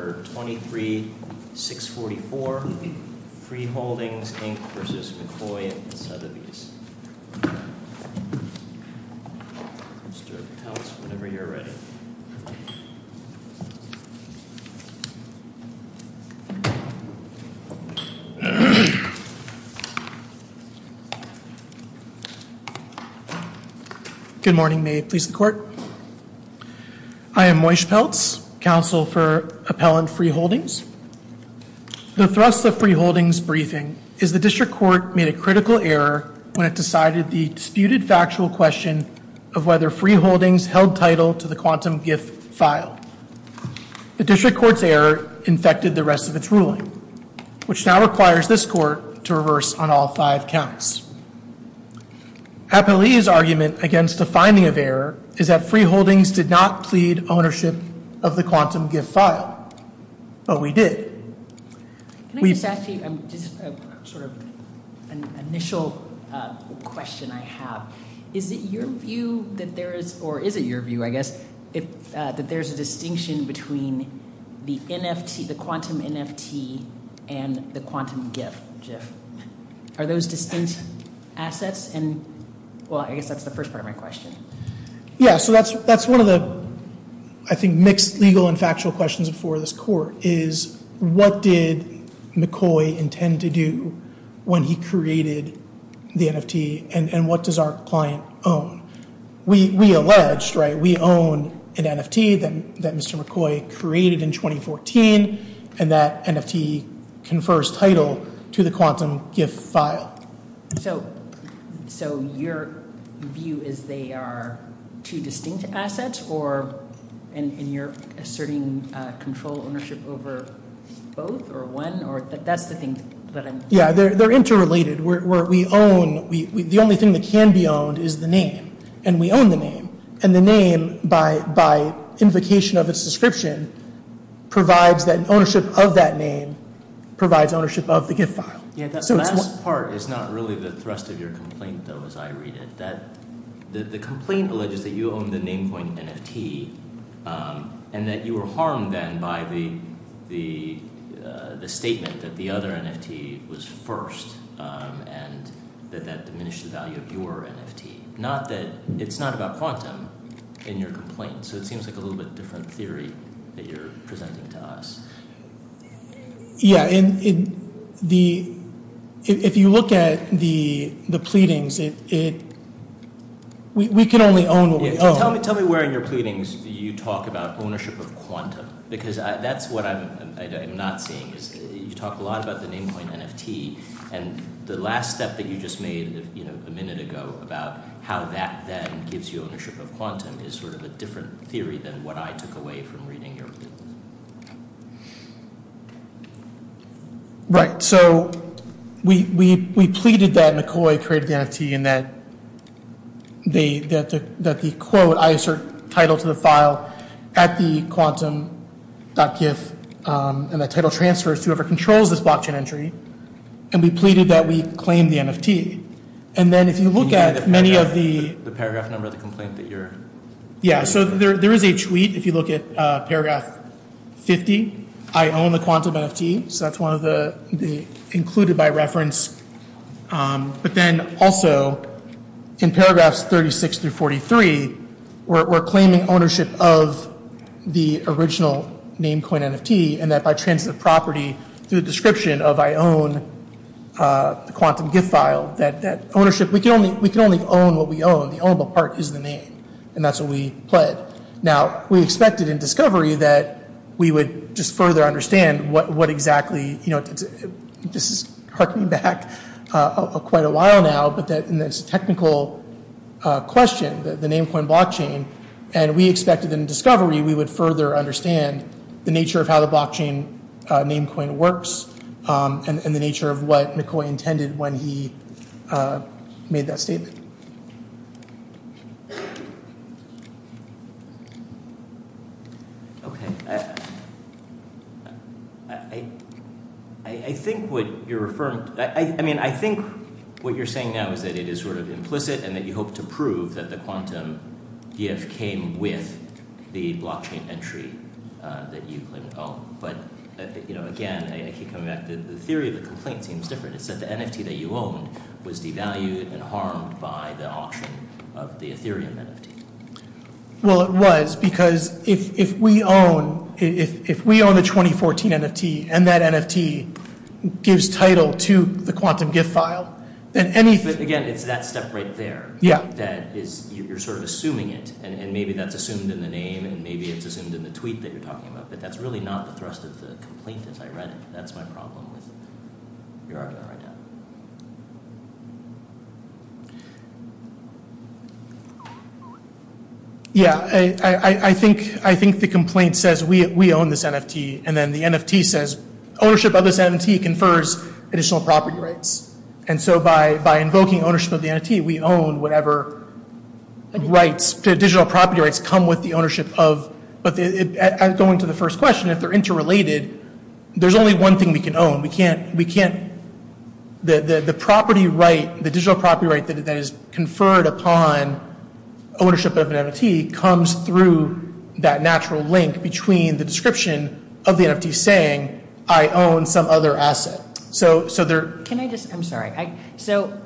and Sotheby's. Mr. Peltz, whenever you're ready. Good morning. May it please the Court? I am Moish Peltz, Counsel for Appellant Free Holdings. The thrust of Free Holdings' briefing is the District Court made a critical error when it decided the disputed factual question of whether Free Holdings held title to the Quantum GIF file. The District Court's error infected the rest of its ruling, which now requires this Court to reverse on all five counts. Appellee's argument against the finding of error is that Free Holdings did not plead ownership of the Quantum GIF file, but we did. Can I just ask you just sort of an initial question I have. Is it your view that there is, or is it your view, I guess, that there's a distinction between the NFT, the Quantum NFT, and the Quantum GIF? Are those distinct assets? And, well, I guess that's the first part of my question. Yeah, so that's, that's one of the, I think, mixed legal and factual questions before this Court, is what did McCoy intend to do when he created the NFT, and what does our client own? We alleged, right, we own an NFT that Mr. McCoy created in 2014, and that NFT confers title to the Quantum GIF file. So, so your view is they are two distinct assets, or, and you're asserting control ownership over both, or one, or, that's the thing that I'm. Yeah, they're interrelated. We own, the only thing that can be owned is the name, and we own the name, and the name, by, by invocation of its description, provides that ownership of that name, provides ownership of the GIF file. Yeah, that last part is not really the thrust of your complaint, though, as I read it, that the complaint alleges that you own the Namecoin NFT, and that you were first, and that that diminished the value of your NFT. Not that, it's not about Quantum in your complaint, so it seems like a little bit different theory that you're presenting to us. Yeah, and the, if you look at the, the pleadings, it, it, we, we can only own what we own. Tell me where in your pleadings you talk about ownership of Quantum, because that's what I'm, I'm not seeing, is you talk a lot about the Namecoin NFT, and the last step that you just made, you know, a minute ago, about how that then gives you ownership of Quantum, is sort of a different theory than what I took away from reading your pleadings. Right, so we, we, we pleaded that McCoy created the NFT, and that the, that the quote, I assert title to the file at the quantum.gif, and the title transfers to whoever controls this blockchain entry, and we pleaded that we claim the NFT, and then if you look at many of the, the paragraph number of the complaint that you're, yeah, so there, there is a tweet, if you look at paragraph 50, I own the Quantum NFT, so that's one of the, the included by reference, but then also in paragraphs 36 through 43, we're claiming ownership of the original Namecoin NFT, and that by transitive property, through the description of I own the Quantum GIF file, that, that ownership, we can only, we can only own what we own, the ownable part is the name, and that's what we pled. Now, we expected in discovery that we would just further understand what, what exactly, you know, this is harking back quite a while now, but that in this technical question, the Namecoin blockchain, and we expected in discovery we would further understand the nature of how the blockchain Namecoin works, and the nature of what McCoy intended when he made that statement. Okay, I, I, I think what you're affirming, I, I mean, I think what you're saying now is that it is sort of implicit, and that you hope to prove that the Quantum GIF came with the blockchain entry that you claim to own, but, you know, again, I keep coming back to the theory of the complaint seems different. It said the NFT that you owned was devalued and harmed by the auction of the Ethereum NFT. Well, it was, because if, if we own, if, if we own the 2014 NFT, and that NFT gives title to the Quantum GIF file, then any... But again, it's that step right there. Yeah. That is, you're sort of assuming it, and maybe that's assumed in the name, and maybe it's assumed in the tweet that you're talking about, but that's really not the thrust of the complaint as I read it. That's my problem with it. You're arguing that right now. Yeah, I, I, I think, I think the complaint says we, we own this NFT, and then the NFT says ownership of this NFT confers additional property rights, and so by, by invoking ownership of the NFT, we own whatever rights to digital property rights come with the ownership of, but going to the first question, if they're interrelated, there's only one thing we can own. We can't, we can't, the, the, the property right, the digital property right that is conferred upon ownership of an NFT comes through that natural link between the description of the NFT saying, I own some other asset. So, so there... Can I just, I'm sorry, I, so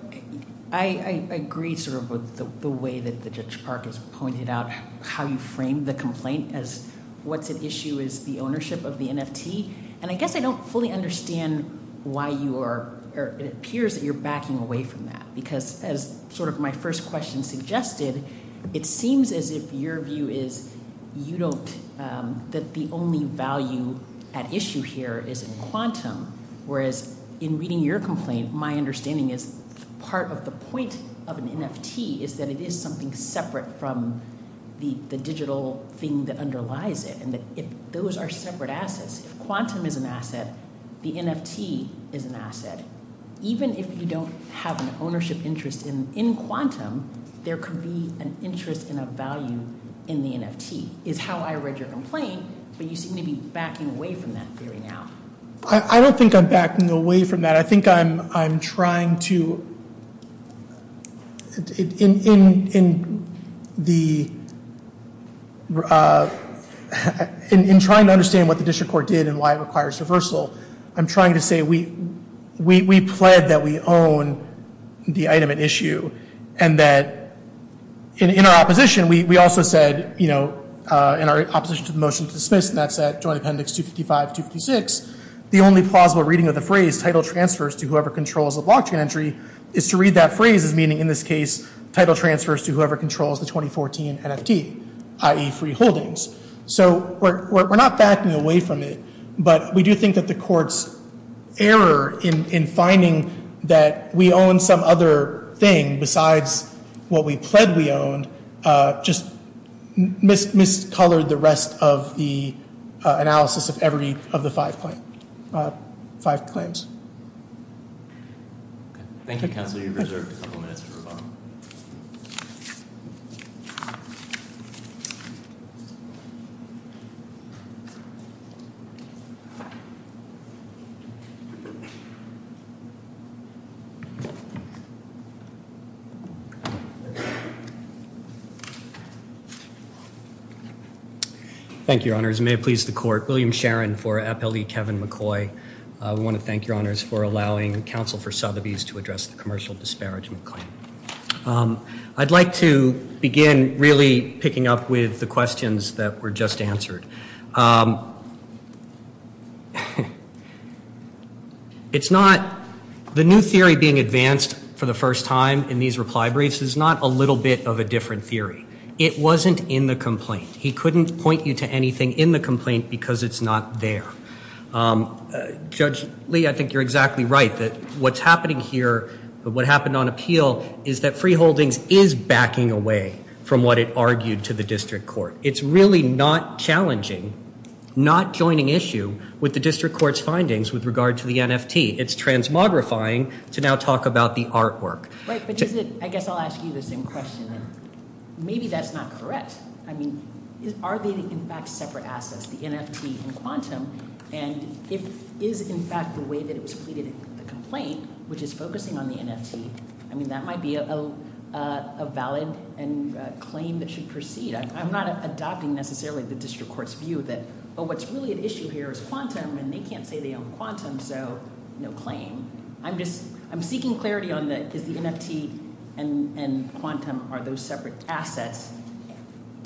I, I agree sort of with the way that the Judge Park has pointed out how you framed the complaint as what's at issue is the ownership of the NFT, and I guess I don't fully understand why you are, or it appears that you're backing away from that, because as sort of my first question suggested, it seems as if your view is you don't, that the only value at issue here is in quantum, whereas in reading your separate from the, the digital thing that underlies it, and that if those are separate assets, if quantum is an asset, the NFT is an asset. Even if you don't have an ownership interest in, in quantum, there could be an interest in a value in the NFT, is how I read your complaint, but you seem to be backing away from that theory now. I, I don't think I'm backing away from that. I think I'm, I'm trying to, in, in, in the, in, in trying to understand what the District Court did and why it requires reversal, I'm trying to say we, we, we pled that we own the item at issue, and that in, in our opposition, we, we also said, you know, in our opposition to the motion to dismiss, and that's that Joint Appendix 255, 256, the only plausible reading of the phrase title transfers to whoever controls the blockchain entry, is to read that phrase as meaning, in this case, title transfers to whoever controls the 2014 NFT, i.e. free holdings. So we're, we're not backing away from it, but we do think that the Court's error in, in finding that we own some other thing besides what we pled we owned, just mis, mis-colored the rest of the analysis of every of the five point, five claims. Okay. Thank you, Counselor. You've reserved a couple minutes for Kevin McCoy. We want to thank your honors for allowing Counsel for Sotheby's to address the commercial disparagement claim. I'd like to begin really picking up with the questions that were just answered. It's not, the new theory being advanced for the first time in these reply briefs is not a little bit of a different theory. It wasn't in the complaint. He couldn't point you to anything in the complaint because it's not there. Judge Lee, I think you're exactly right, that what's happening here, but what happened on appeal is that free holdings is backing away from what it argued to the District Court. It's really not challenging, not joining issue with the District Court's findings with regard to the NFT. It's transmogrifying to now talk about the artwork. Wait, but is it, I guess I'll ask you the same question. Maybe that's not correct. I mean, are they in fact separate assets, the NFT and quantum? And if is in fact the way that it was pleaded in the complaint, which is focusing on the NFT. I mean, that might be a valid and claim that should proceed. I'm not adopting necessarily the District Court's view that, oh, what's really at issue here is quantum and they can't say they own quantum, so no claim. I'm just, I'm seeking clarity on that because the NFT and quantum are those separate assets.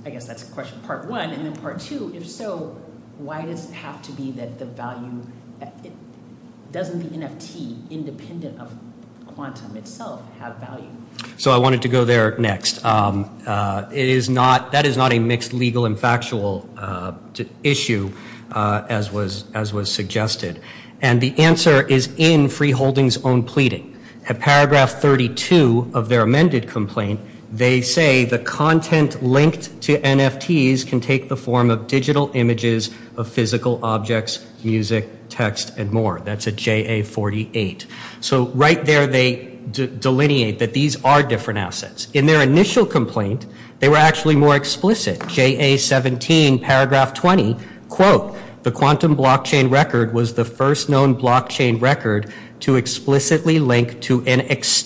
I guess that's question part one and then part two. If so, why does it have to be that the value, doesn't the NFT independent of quantum itself have value? So I wanted to go there next. It is not, that is not a mixed legal and factual issue as was suggested. And the answer is in linked to NFTs can take the form of digital images of physical objects, music, text, and more. That's a JA 48. So right there, they delineate that these are different assets. In their initial complaint, they were actually more explicit. JA 17 paragraph 20, quote, the quantum blockchain record was the first known blockchain record to explicitly link to an NFT.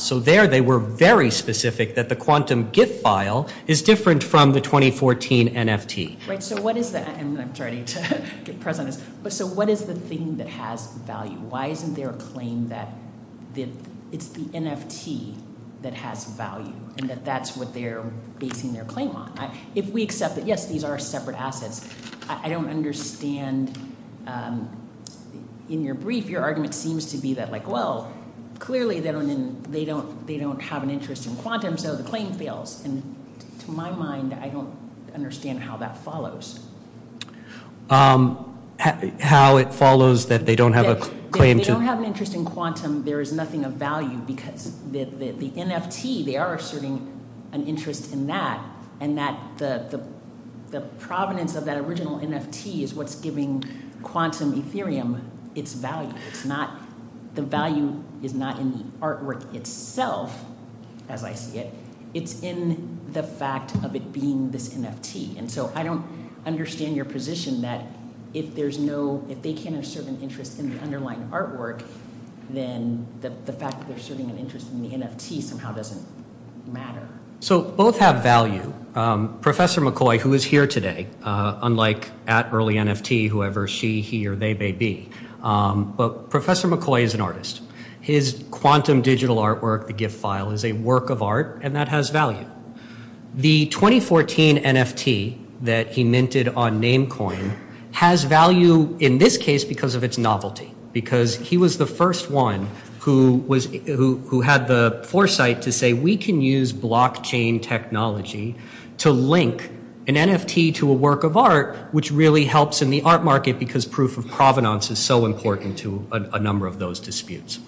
So there they were very specific that the quantum GIF file is different from the 2014 NFT. Right. So what is the, and I'm starting to get press on this, but so what is the thing that has value? Why isn't there a claim that it's the NFT that has value and that that's what they're basing their claim on? If we accept that, yes, these are separate assets. I don't understand in your brief, your argument seems to be that like, well, clearly they don't, they don't, they don't have an interest in quantum. So the claim fails. And to my mind, I don't understand how that follows. How it follows that they don't have a claim. They don't have an interest in quantum. There is nothing of value because the NFT, they are asserting an interest in that. And that the, the, the provenance of that original NFT is what's giving quantum Ethereum its value. It's not, the value is not in the artwork itself. As I see it, it's in the fact of it being this NFT. And so I don't understand your position that if there's no, if they can't assert an interest in the underlying artwork, then the fact that they're serving an interest in the NFT somehow doesn't matter. So both have value. Professor McCoy, who is here today, unlike at early NFT, whoever she, he, or they may be, but Professor McCoy is an artist. His quantum digital artwork, the GIF file is a work of art and that has value. The 2014 NFT that he minted on Namecoin has value in this case because of its novelty, because he was the first one who was, who, who had the foresight to say, we can use blockchain technology to link an NFT to a work of art, which really helps in the art market because proof of provenance is so important to a number of those disputes.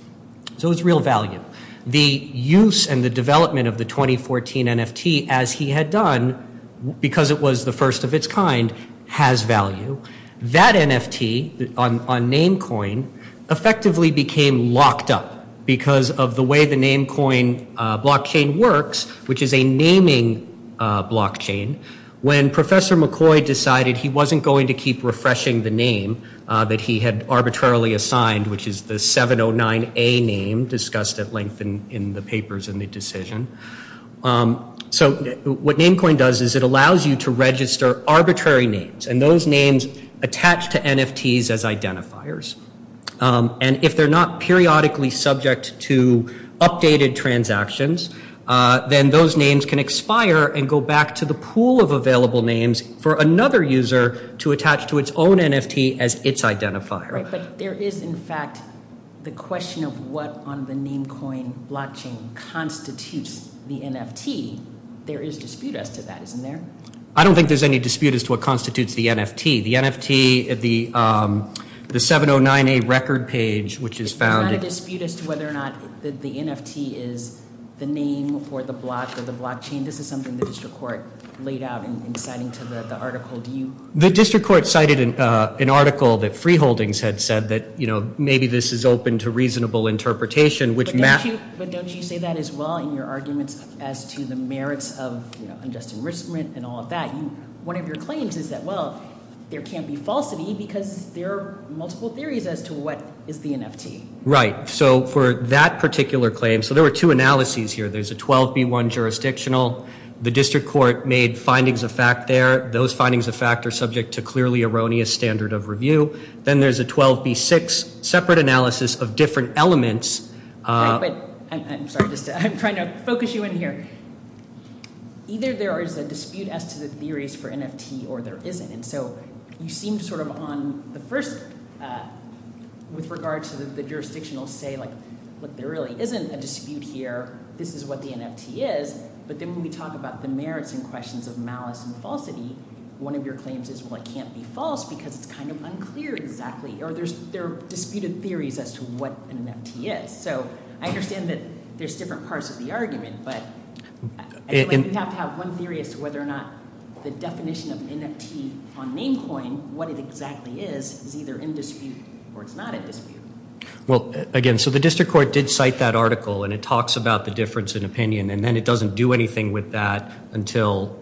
So it's real value. The use and the development of the 2014 NFT as he had done, because it was the first of its kind, has value. That NFT on, on Namecoin effectively became locked up because of the way the Namecoin blockchain works, which is a naming blockchain. When Professor McCoy decided he wasn't going to keep refreshing the name that he had arbitrarily assigned, which is the 709A name discussed at length in, in the papers and the decision. So what Namecoin does is it allows you to register arbitrary names and those names attach to NFTs as identifiers. And if they're not periodically subject to updated transactions, then those names can expire and go back to the pool of available names for another user to attach to its own NFT as its identifier. Right. But there is in fact the question of what on the Namecoin blockchain constitutes the NFT. There is dispute as to that, isn't there? I don't think there's any dispute as to what constitutes the NFT. The NFT, the, the 709A record page, which is found. There's not a dispute as to whether or not the NFT is the name or the block or the blockchain. This is something the district court laid out in, in citing to the article. Do you? The district court cited an article that Freeholdings had said that, you know, maybe this is open to reasonable interpretation, which. But don't you, but don't you say that as well in your arguments as to the merits of, unjust enrichment and all of that. One of your claims is that, well, there can't be falsity because there are multiple theories as to what is the NFT. Right. So for that particular claim, so there were two analyses here. There's a 12B1 jurisdictional. The district court made findings of fact there. Those findings of fact are subject to clearly erroneous standard of review. Then there's a 12B6 separate analysis of different elements. But I'm sorry, just to, I'm trying to focus you in here. Either there is a dispute as to the theories for NFT or there isn't. And so you seem to sort of on the first, with regard to the jurisdictional say like, look, there really isn't a dispute here. This is what the NFT is. But then when we talk about the merits and questions of malice and falsity, one of your claims is, well, it can't be false because it's kind of unclear exactly, or there's, there are disputed theories as to what an NFT is. So I understand that there's different parts of the argument, but you have to have one theory as to whether or not the definition of NFT on Namecoin, what it exactly is, is either in dispute or it's not a dispute. Well, again, so the district court did cite that article and it talks about the difference in opinion and then it doesn't do anything with that until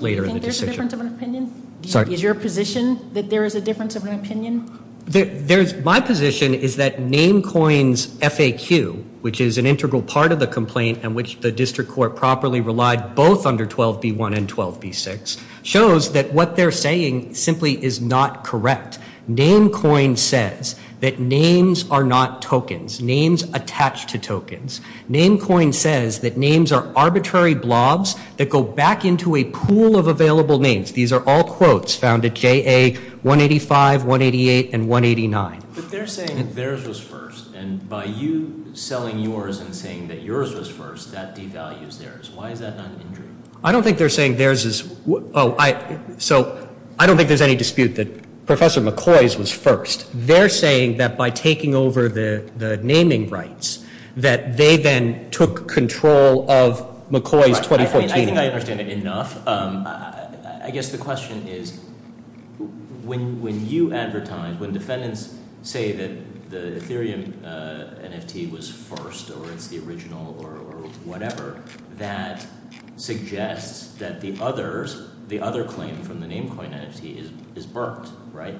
later in the decision. Do you think there's a difference of an opinion? Is your position that there is a difference of an opinion? There's, my position is that Namecoin's FAQ, which is an integral part of the complaint and which the district court properly relied both under 12b1 and 12b6, shows that what they're saying simply is not correct. Namecoin says that names are not tokens, names attached to tokens. Namecoin says that names are arbitrary blobs that go back into a pool of But they're saying theirs was first and by you selling yours and saying that yours was first, that devalues theirs. Why is that not an injury? I don't think they're saying theirs is, so I don't think there's any dispute that Professor McCoy's was first. They're saying that by taking over the naming rights, that they then took control of McCoy's 2014. I think I understand it enough. I guess the question is, when you advertise, when defendants say that the Ethereum NFT was first or it's the original or whatever, that suggests that the other claim from the Namecoin NFT is burnt, right?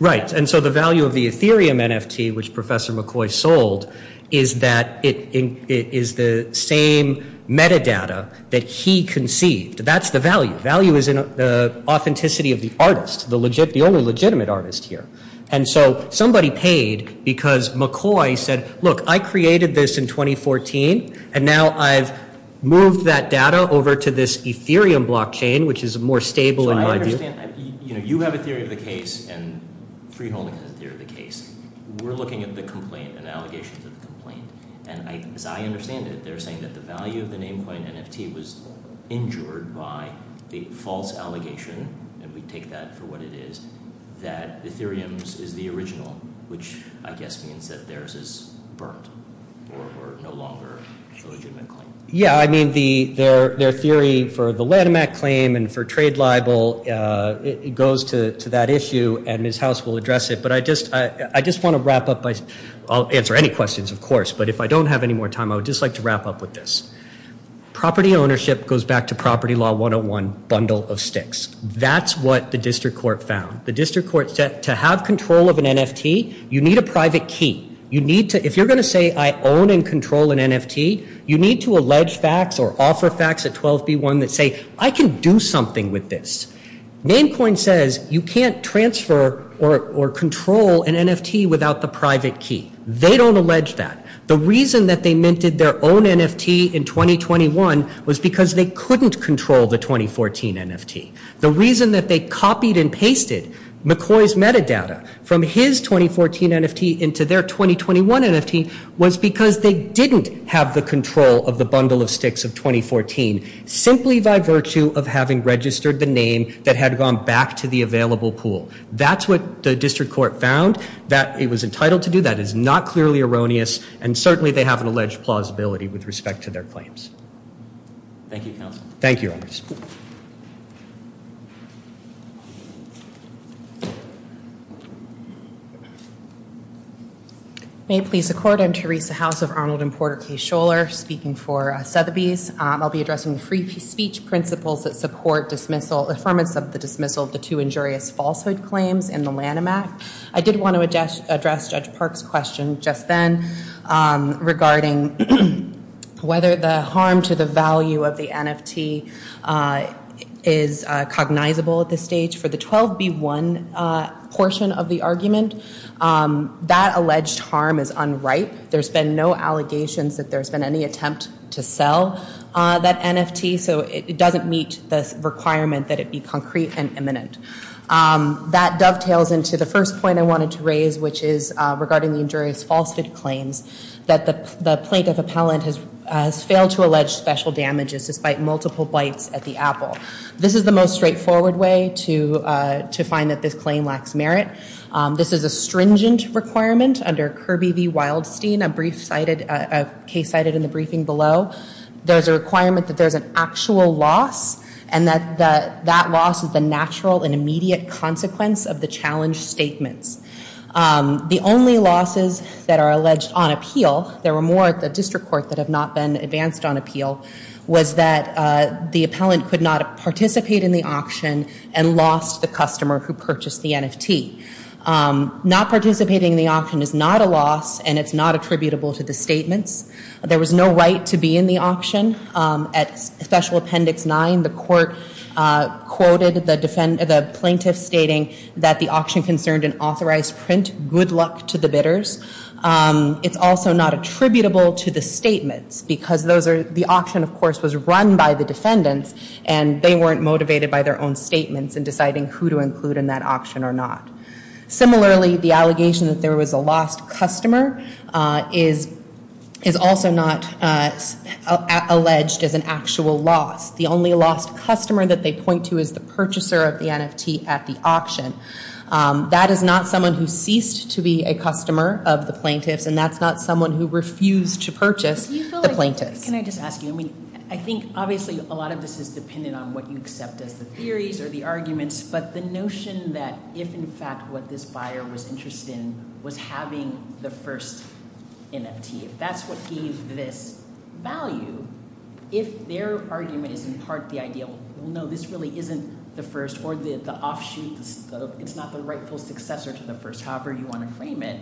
Right. And so the value of the Ethereum NFT, which Professor McCoy sold, is that it is the same metadata that he conceived. That's the value. Value is in the authenticity of the artist, the only legitimate artist here. And so somebody paid because McCoy said, look, I created this in 2014, and now I've moved that data over to this Ethereum blockchain, which is more stable. So I understand. You have a theory of the case and Freeholding has a theory of the case. We're looking at the complaint and allegations of the complaint. And as I understand it, they're saying that the value of the Namecoin NFT was injured by a false allegation, and we take that for what it is, that Ethereum's is the original, which I guess means that theirs is burnt or no longer a legitimate claim. Yeah. I mean, their theory for the Latimac claim and for trade libel, it goes to that issue and Ms. House will address it. But I just want to wrap up. I'll answer any questions, of course. But if I don't have any more time, I would just like to wrap up with this. Property ownership goes back to property law 101 bundle of sticks. That's what the district court found. The district court said to have control of an NFT, you need a private key. If you're going to say I own and control an NFT, you need to allege facts or offer facts at 12B1 that say I can do something with this. Namecoin says you can't transfer or control an NFT without the private key. They don't allege that. The reason that they minted their own NFT in 2021 was because they couldn't control the 2014 NFT. The reason that they copied and pasted McCoy's metadata from his 2014 NFT into their 2021 NFT was because they didn't have the control of the bundle of sticks of 2014, simply by virtue of having registered the name that had gone back to the available pool. That's what the district court found, that it was entitled to do. That is not clearly erroneous. And certainly they have an alleged plausibility with respect to their claims. Thank you, your honors. May it please the court, I'm Teresa House of Arnold and Porter K. Scholar, speaking for Sotheby's. I'll be addressing the free speech principles that support dismissal, affirmance of the dismissal of the two injurious falsehood claims in the Lanham Act. I did want to address Judge Park's question just then regarding whether the harm to the value of that alleged harm is unripe. There's been no allegations that there's been any attempt to sell that NFT, so it doesn't meet the requirement that it be concrete and imminent. That dovetails into the first point I wanted to raise, which is regarding the injurious falsehood claims that the plaintiff appellant has failed to allege special damages despite multiple bites at the apple. This is the most straightforward way to find that this claim lacks merit. This is a stringent requirement under Kirby v. Wildstein, a brief case cited in the briefing below. There's a requirement that there's an actual loss and that that loss is the natural and immediate consequence of the challenge statements. The only losses that are alleged on appeal, there were more at the district court that have not been advanced on appeal, was that the appellant could not participate in the auction and lost the customer who purchased the NFT. Not participating in the auction is not a loss and it's not attributable to the statements. There was no right to be in the auction. At special appendix 9, the court quoted the plaintiff stating that the auction concerned an authorized print, good luck to the bidders. It's also not attributable to the statements because the auction of course was run by the defendants and they weren't motivated by their own statements in deciding who to include in that auction or not. Similarly, the allegation that there was a lost customer is also not alleged as an actual loss. The only lost customer that they point to is the purchaser of the NFT at the auction. That is not someone who ceased to be a customer of the plaintiffs and that's not someone who refused to purchase the plaintiffs. Can I just ask you, I mean I think obviously a lot of this is dependent on what you accept as the theories or the arguments, but the notion that if in fact what this buyer was interested in was having the first NFT, if that's what gave this value, if their argument is in part the ideal, well no this really isn't the first or the offshoot, it's not the rightful successor to the first, however you want to frame it,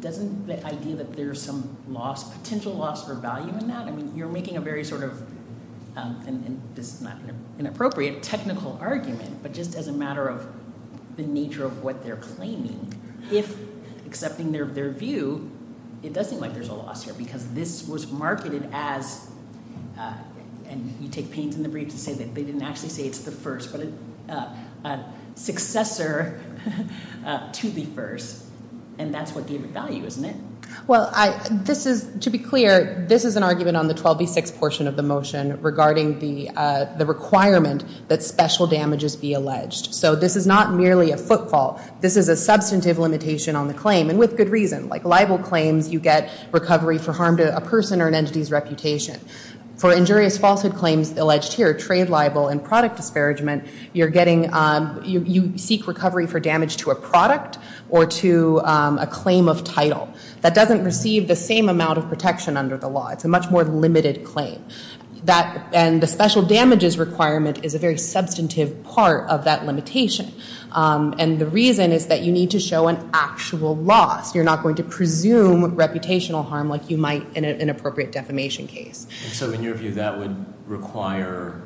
doesn't the idea that there's some loss, potential loss for value in that, I mean you're making a very sort of, and this is not an inappropriate technical argument, but just as a matter of the nature of what they're claiming, if accepting their view, it does seem like there's a loss here because this was marketed as, and you take pains in the brief to say that they didn't actually say it's the first, but a successor to the first and that's what gave it value, isn't it? Well, this is, to be clear, this is an argument on the 12b6 portion of the motion regarding the requirement that special damages be alleged. So this is not merely a footfall, this is a substantive limitation on the claim and with good reason, like libel claims you get recovery for harm to a person or an entity's reputation. For injurious falsehood claims alleged here, trade libel and product disparagement, you're getting, you seek recovery for damage to a product or to a claim of title. That doesn't receive the same amount of protection under the law, it's a much more limited claim. And the special damages requirement is a very substantive part of that limitation and the reason is that you need to show an actual loss. You're not going to presume reputational harm like you might in an inappropriate defamation case. So in your view, that would require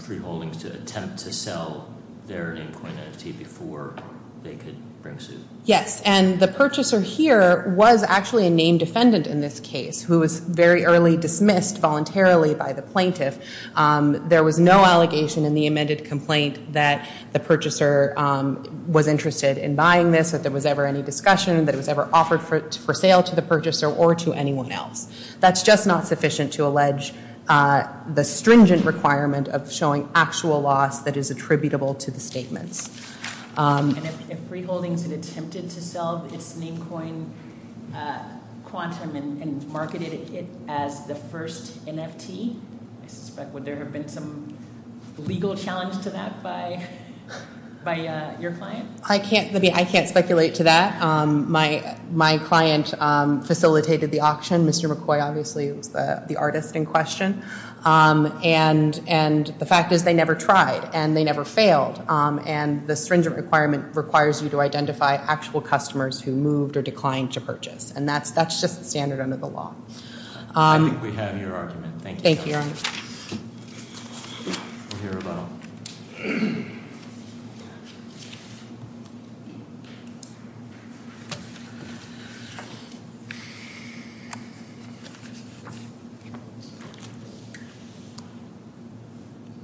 free holdings to attempt to sell their name coin entity before they could bring suit? Yes, and the purchaser here was actually a named defendant in this case who was very early dismissed voluntarily by the plaintiff. There was no allegation in the amended complaint that the purchaser was interested in buying this, that there was ever any discussion, that it was ever offered for sale to the purchaser or to anyone else. That's just not sufficient to allege the stringent requirement of showing actual loss that is attributable to the statements. And if free holdings had attempted to sell its name coin quantum and marketed it as the first NFT, I suspect would there have been some legal challenge to that by your client? I can't speculate to that. My client facilitated the auction. Mr. McCoy obviously was the artist in question and the fact is they never tried and they never failed and the stringent requirement requires you to identify actual customers who moved or declined to purchase and that's just the standard under the law. I think we have your argument. Thank you.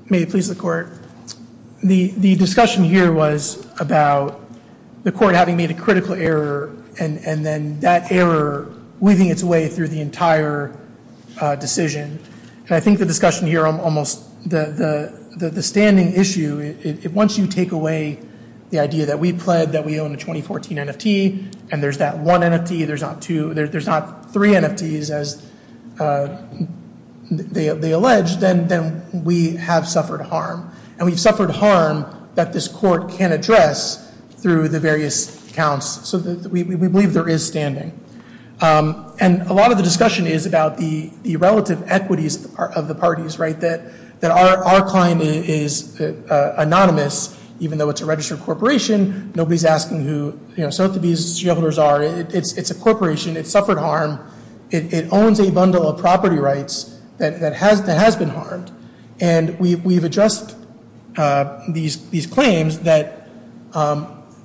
May it please the court. The discussion here was about the court having made a critical error and then that error weaving its way through the entire decision. And I think the discussion here on almost the standing issue, once you take away the idea that we pled that we own a 2014 NFT and there's that one NFT, there's not two, there's not three NFTs as they allege, then we have suffered harm. And we've suffered harm that this court can address through the various accounts. So we believe there is standing. And a lot of the discussion is about the relative equities of the parties, right? That our client is anonymous, even though it's a registered corporation. Nobody's asking who, you know, Sotheby's shareholders are. It's a corporation. It suffered harm. It owns a bundle of property rights that has been harmed. And we've addressed these claims that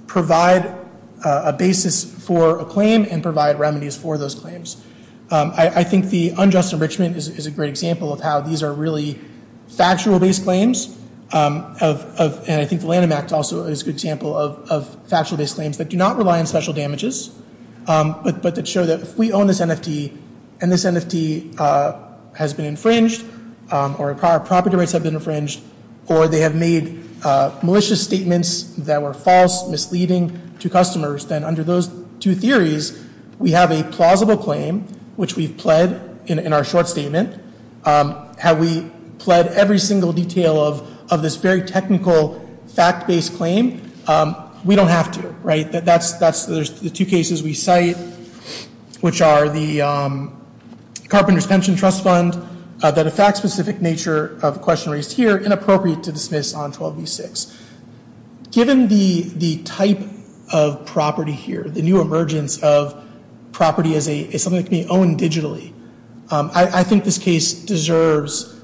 provide a basis for a claim and provide remedies for those claims. I think the unjust enrichment is a great example of how these are really factual-based claims of, and I think the Lanham Act also is a good example of factual-based claims that do not rely on special damages, but that show that if we own this NFT and this NFT has been infringed, or our property rights have been infringed, or they have made malicious statements that were false, misleading to customers, then under those two theories, we have a plausible claim, which we've pled in our short statement. Have we pled every single detail of this very technical fact-based claim? We don't have to, right? There's the two cases we cite, which are the Carpenter's Pension Trust Fund, that a fact-specific nature of question raised here, inappropriate to dismiss on 12b6. Given the type of property here, the new emergence of property as something that can be owned digitally, I think this case deserves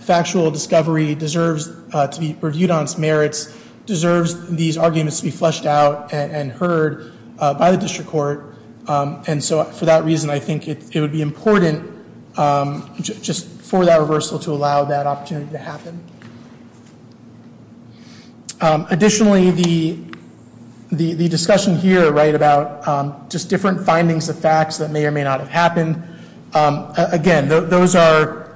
factual discovery, deserves to be reviewed on its merits, deserves these arguments to be fleshed out and heard by the district court, and so for that reason, I think it would be important just for that reversal to allow that opportunity to happen. Additionally, the discussion here, right, about just different findings of facts that may or may not have happened, again, those are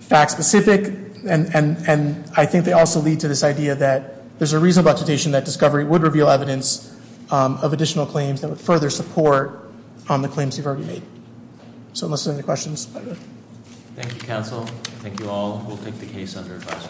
fact-specific, and I think they also lead to this idea that there's a reasonable expectation that discovery would reveal evidence of additional claims that would further support on the claims you've already made. So unless there are any questions. Thank you, counsel. Thank you all. We'll take the case under advice.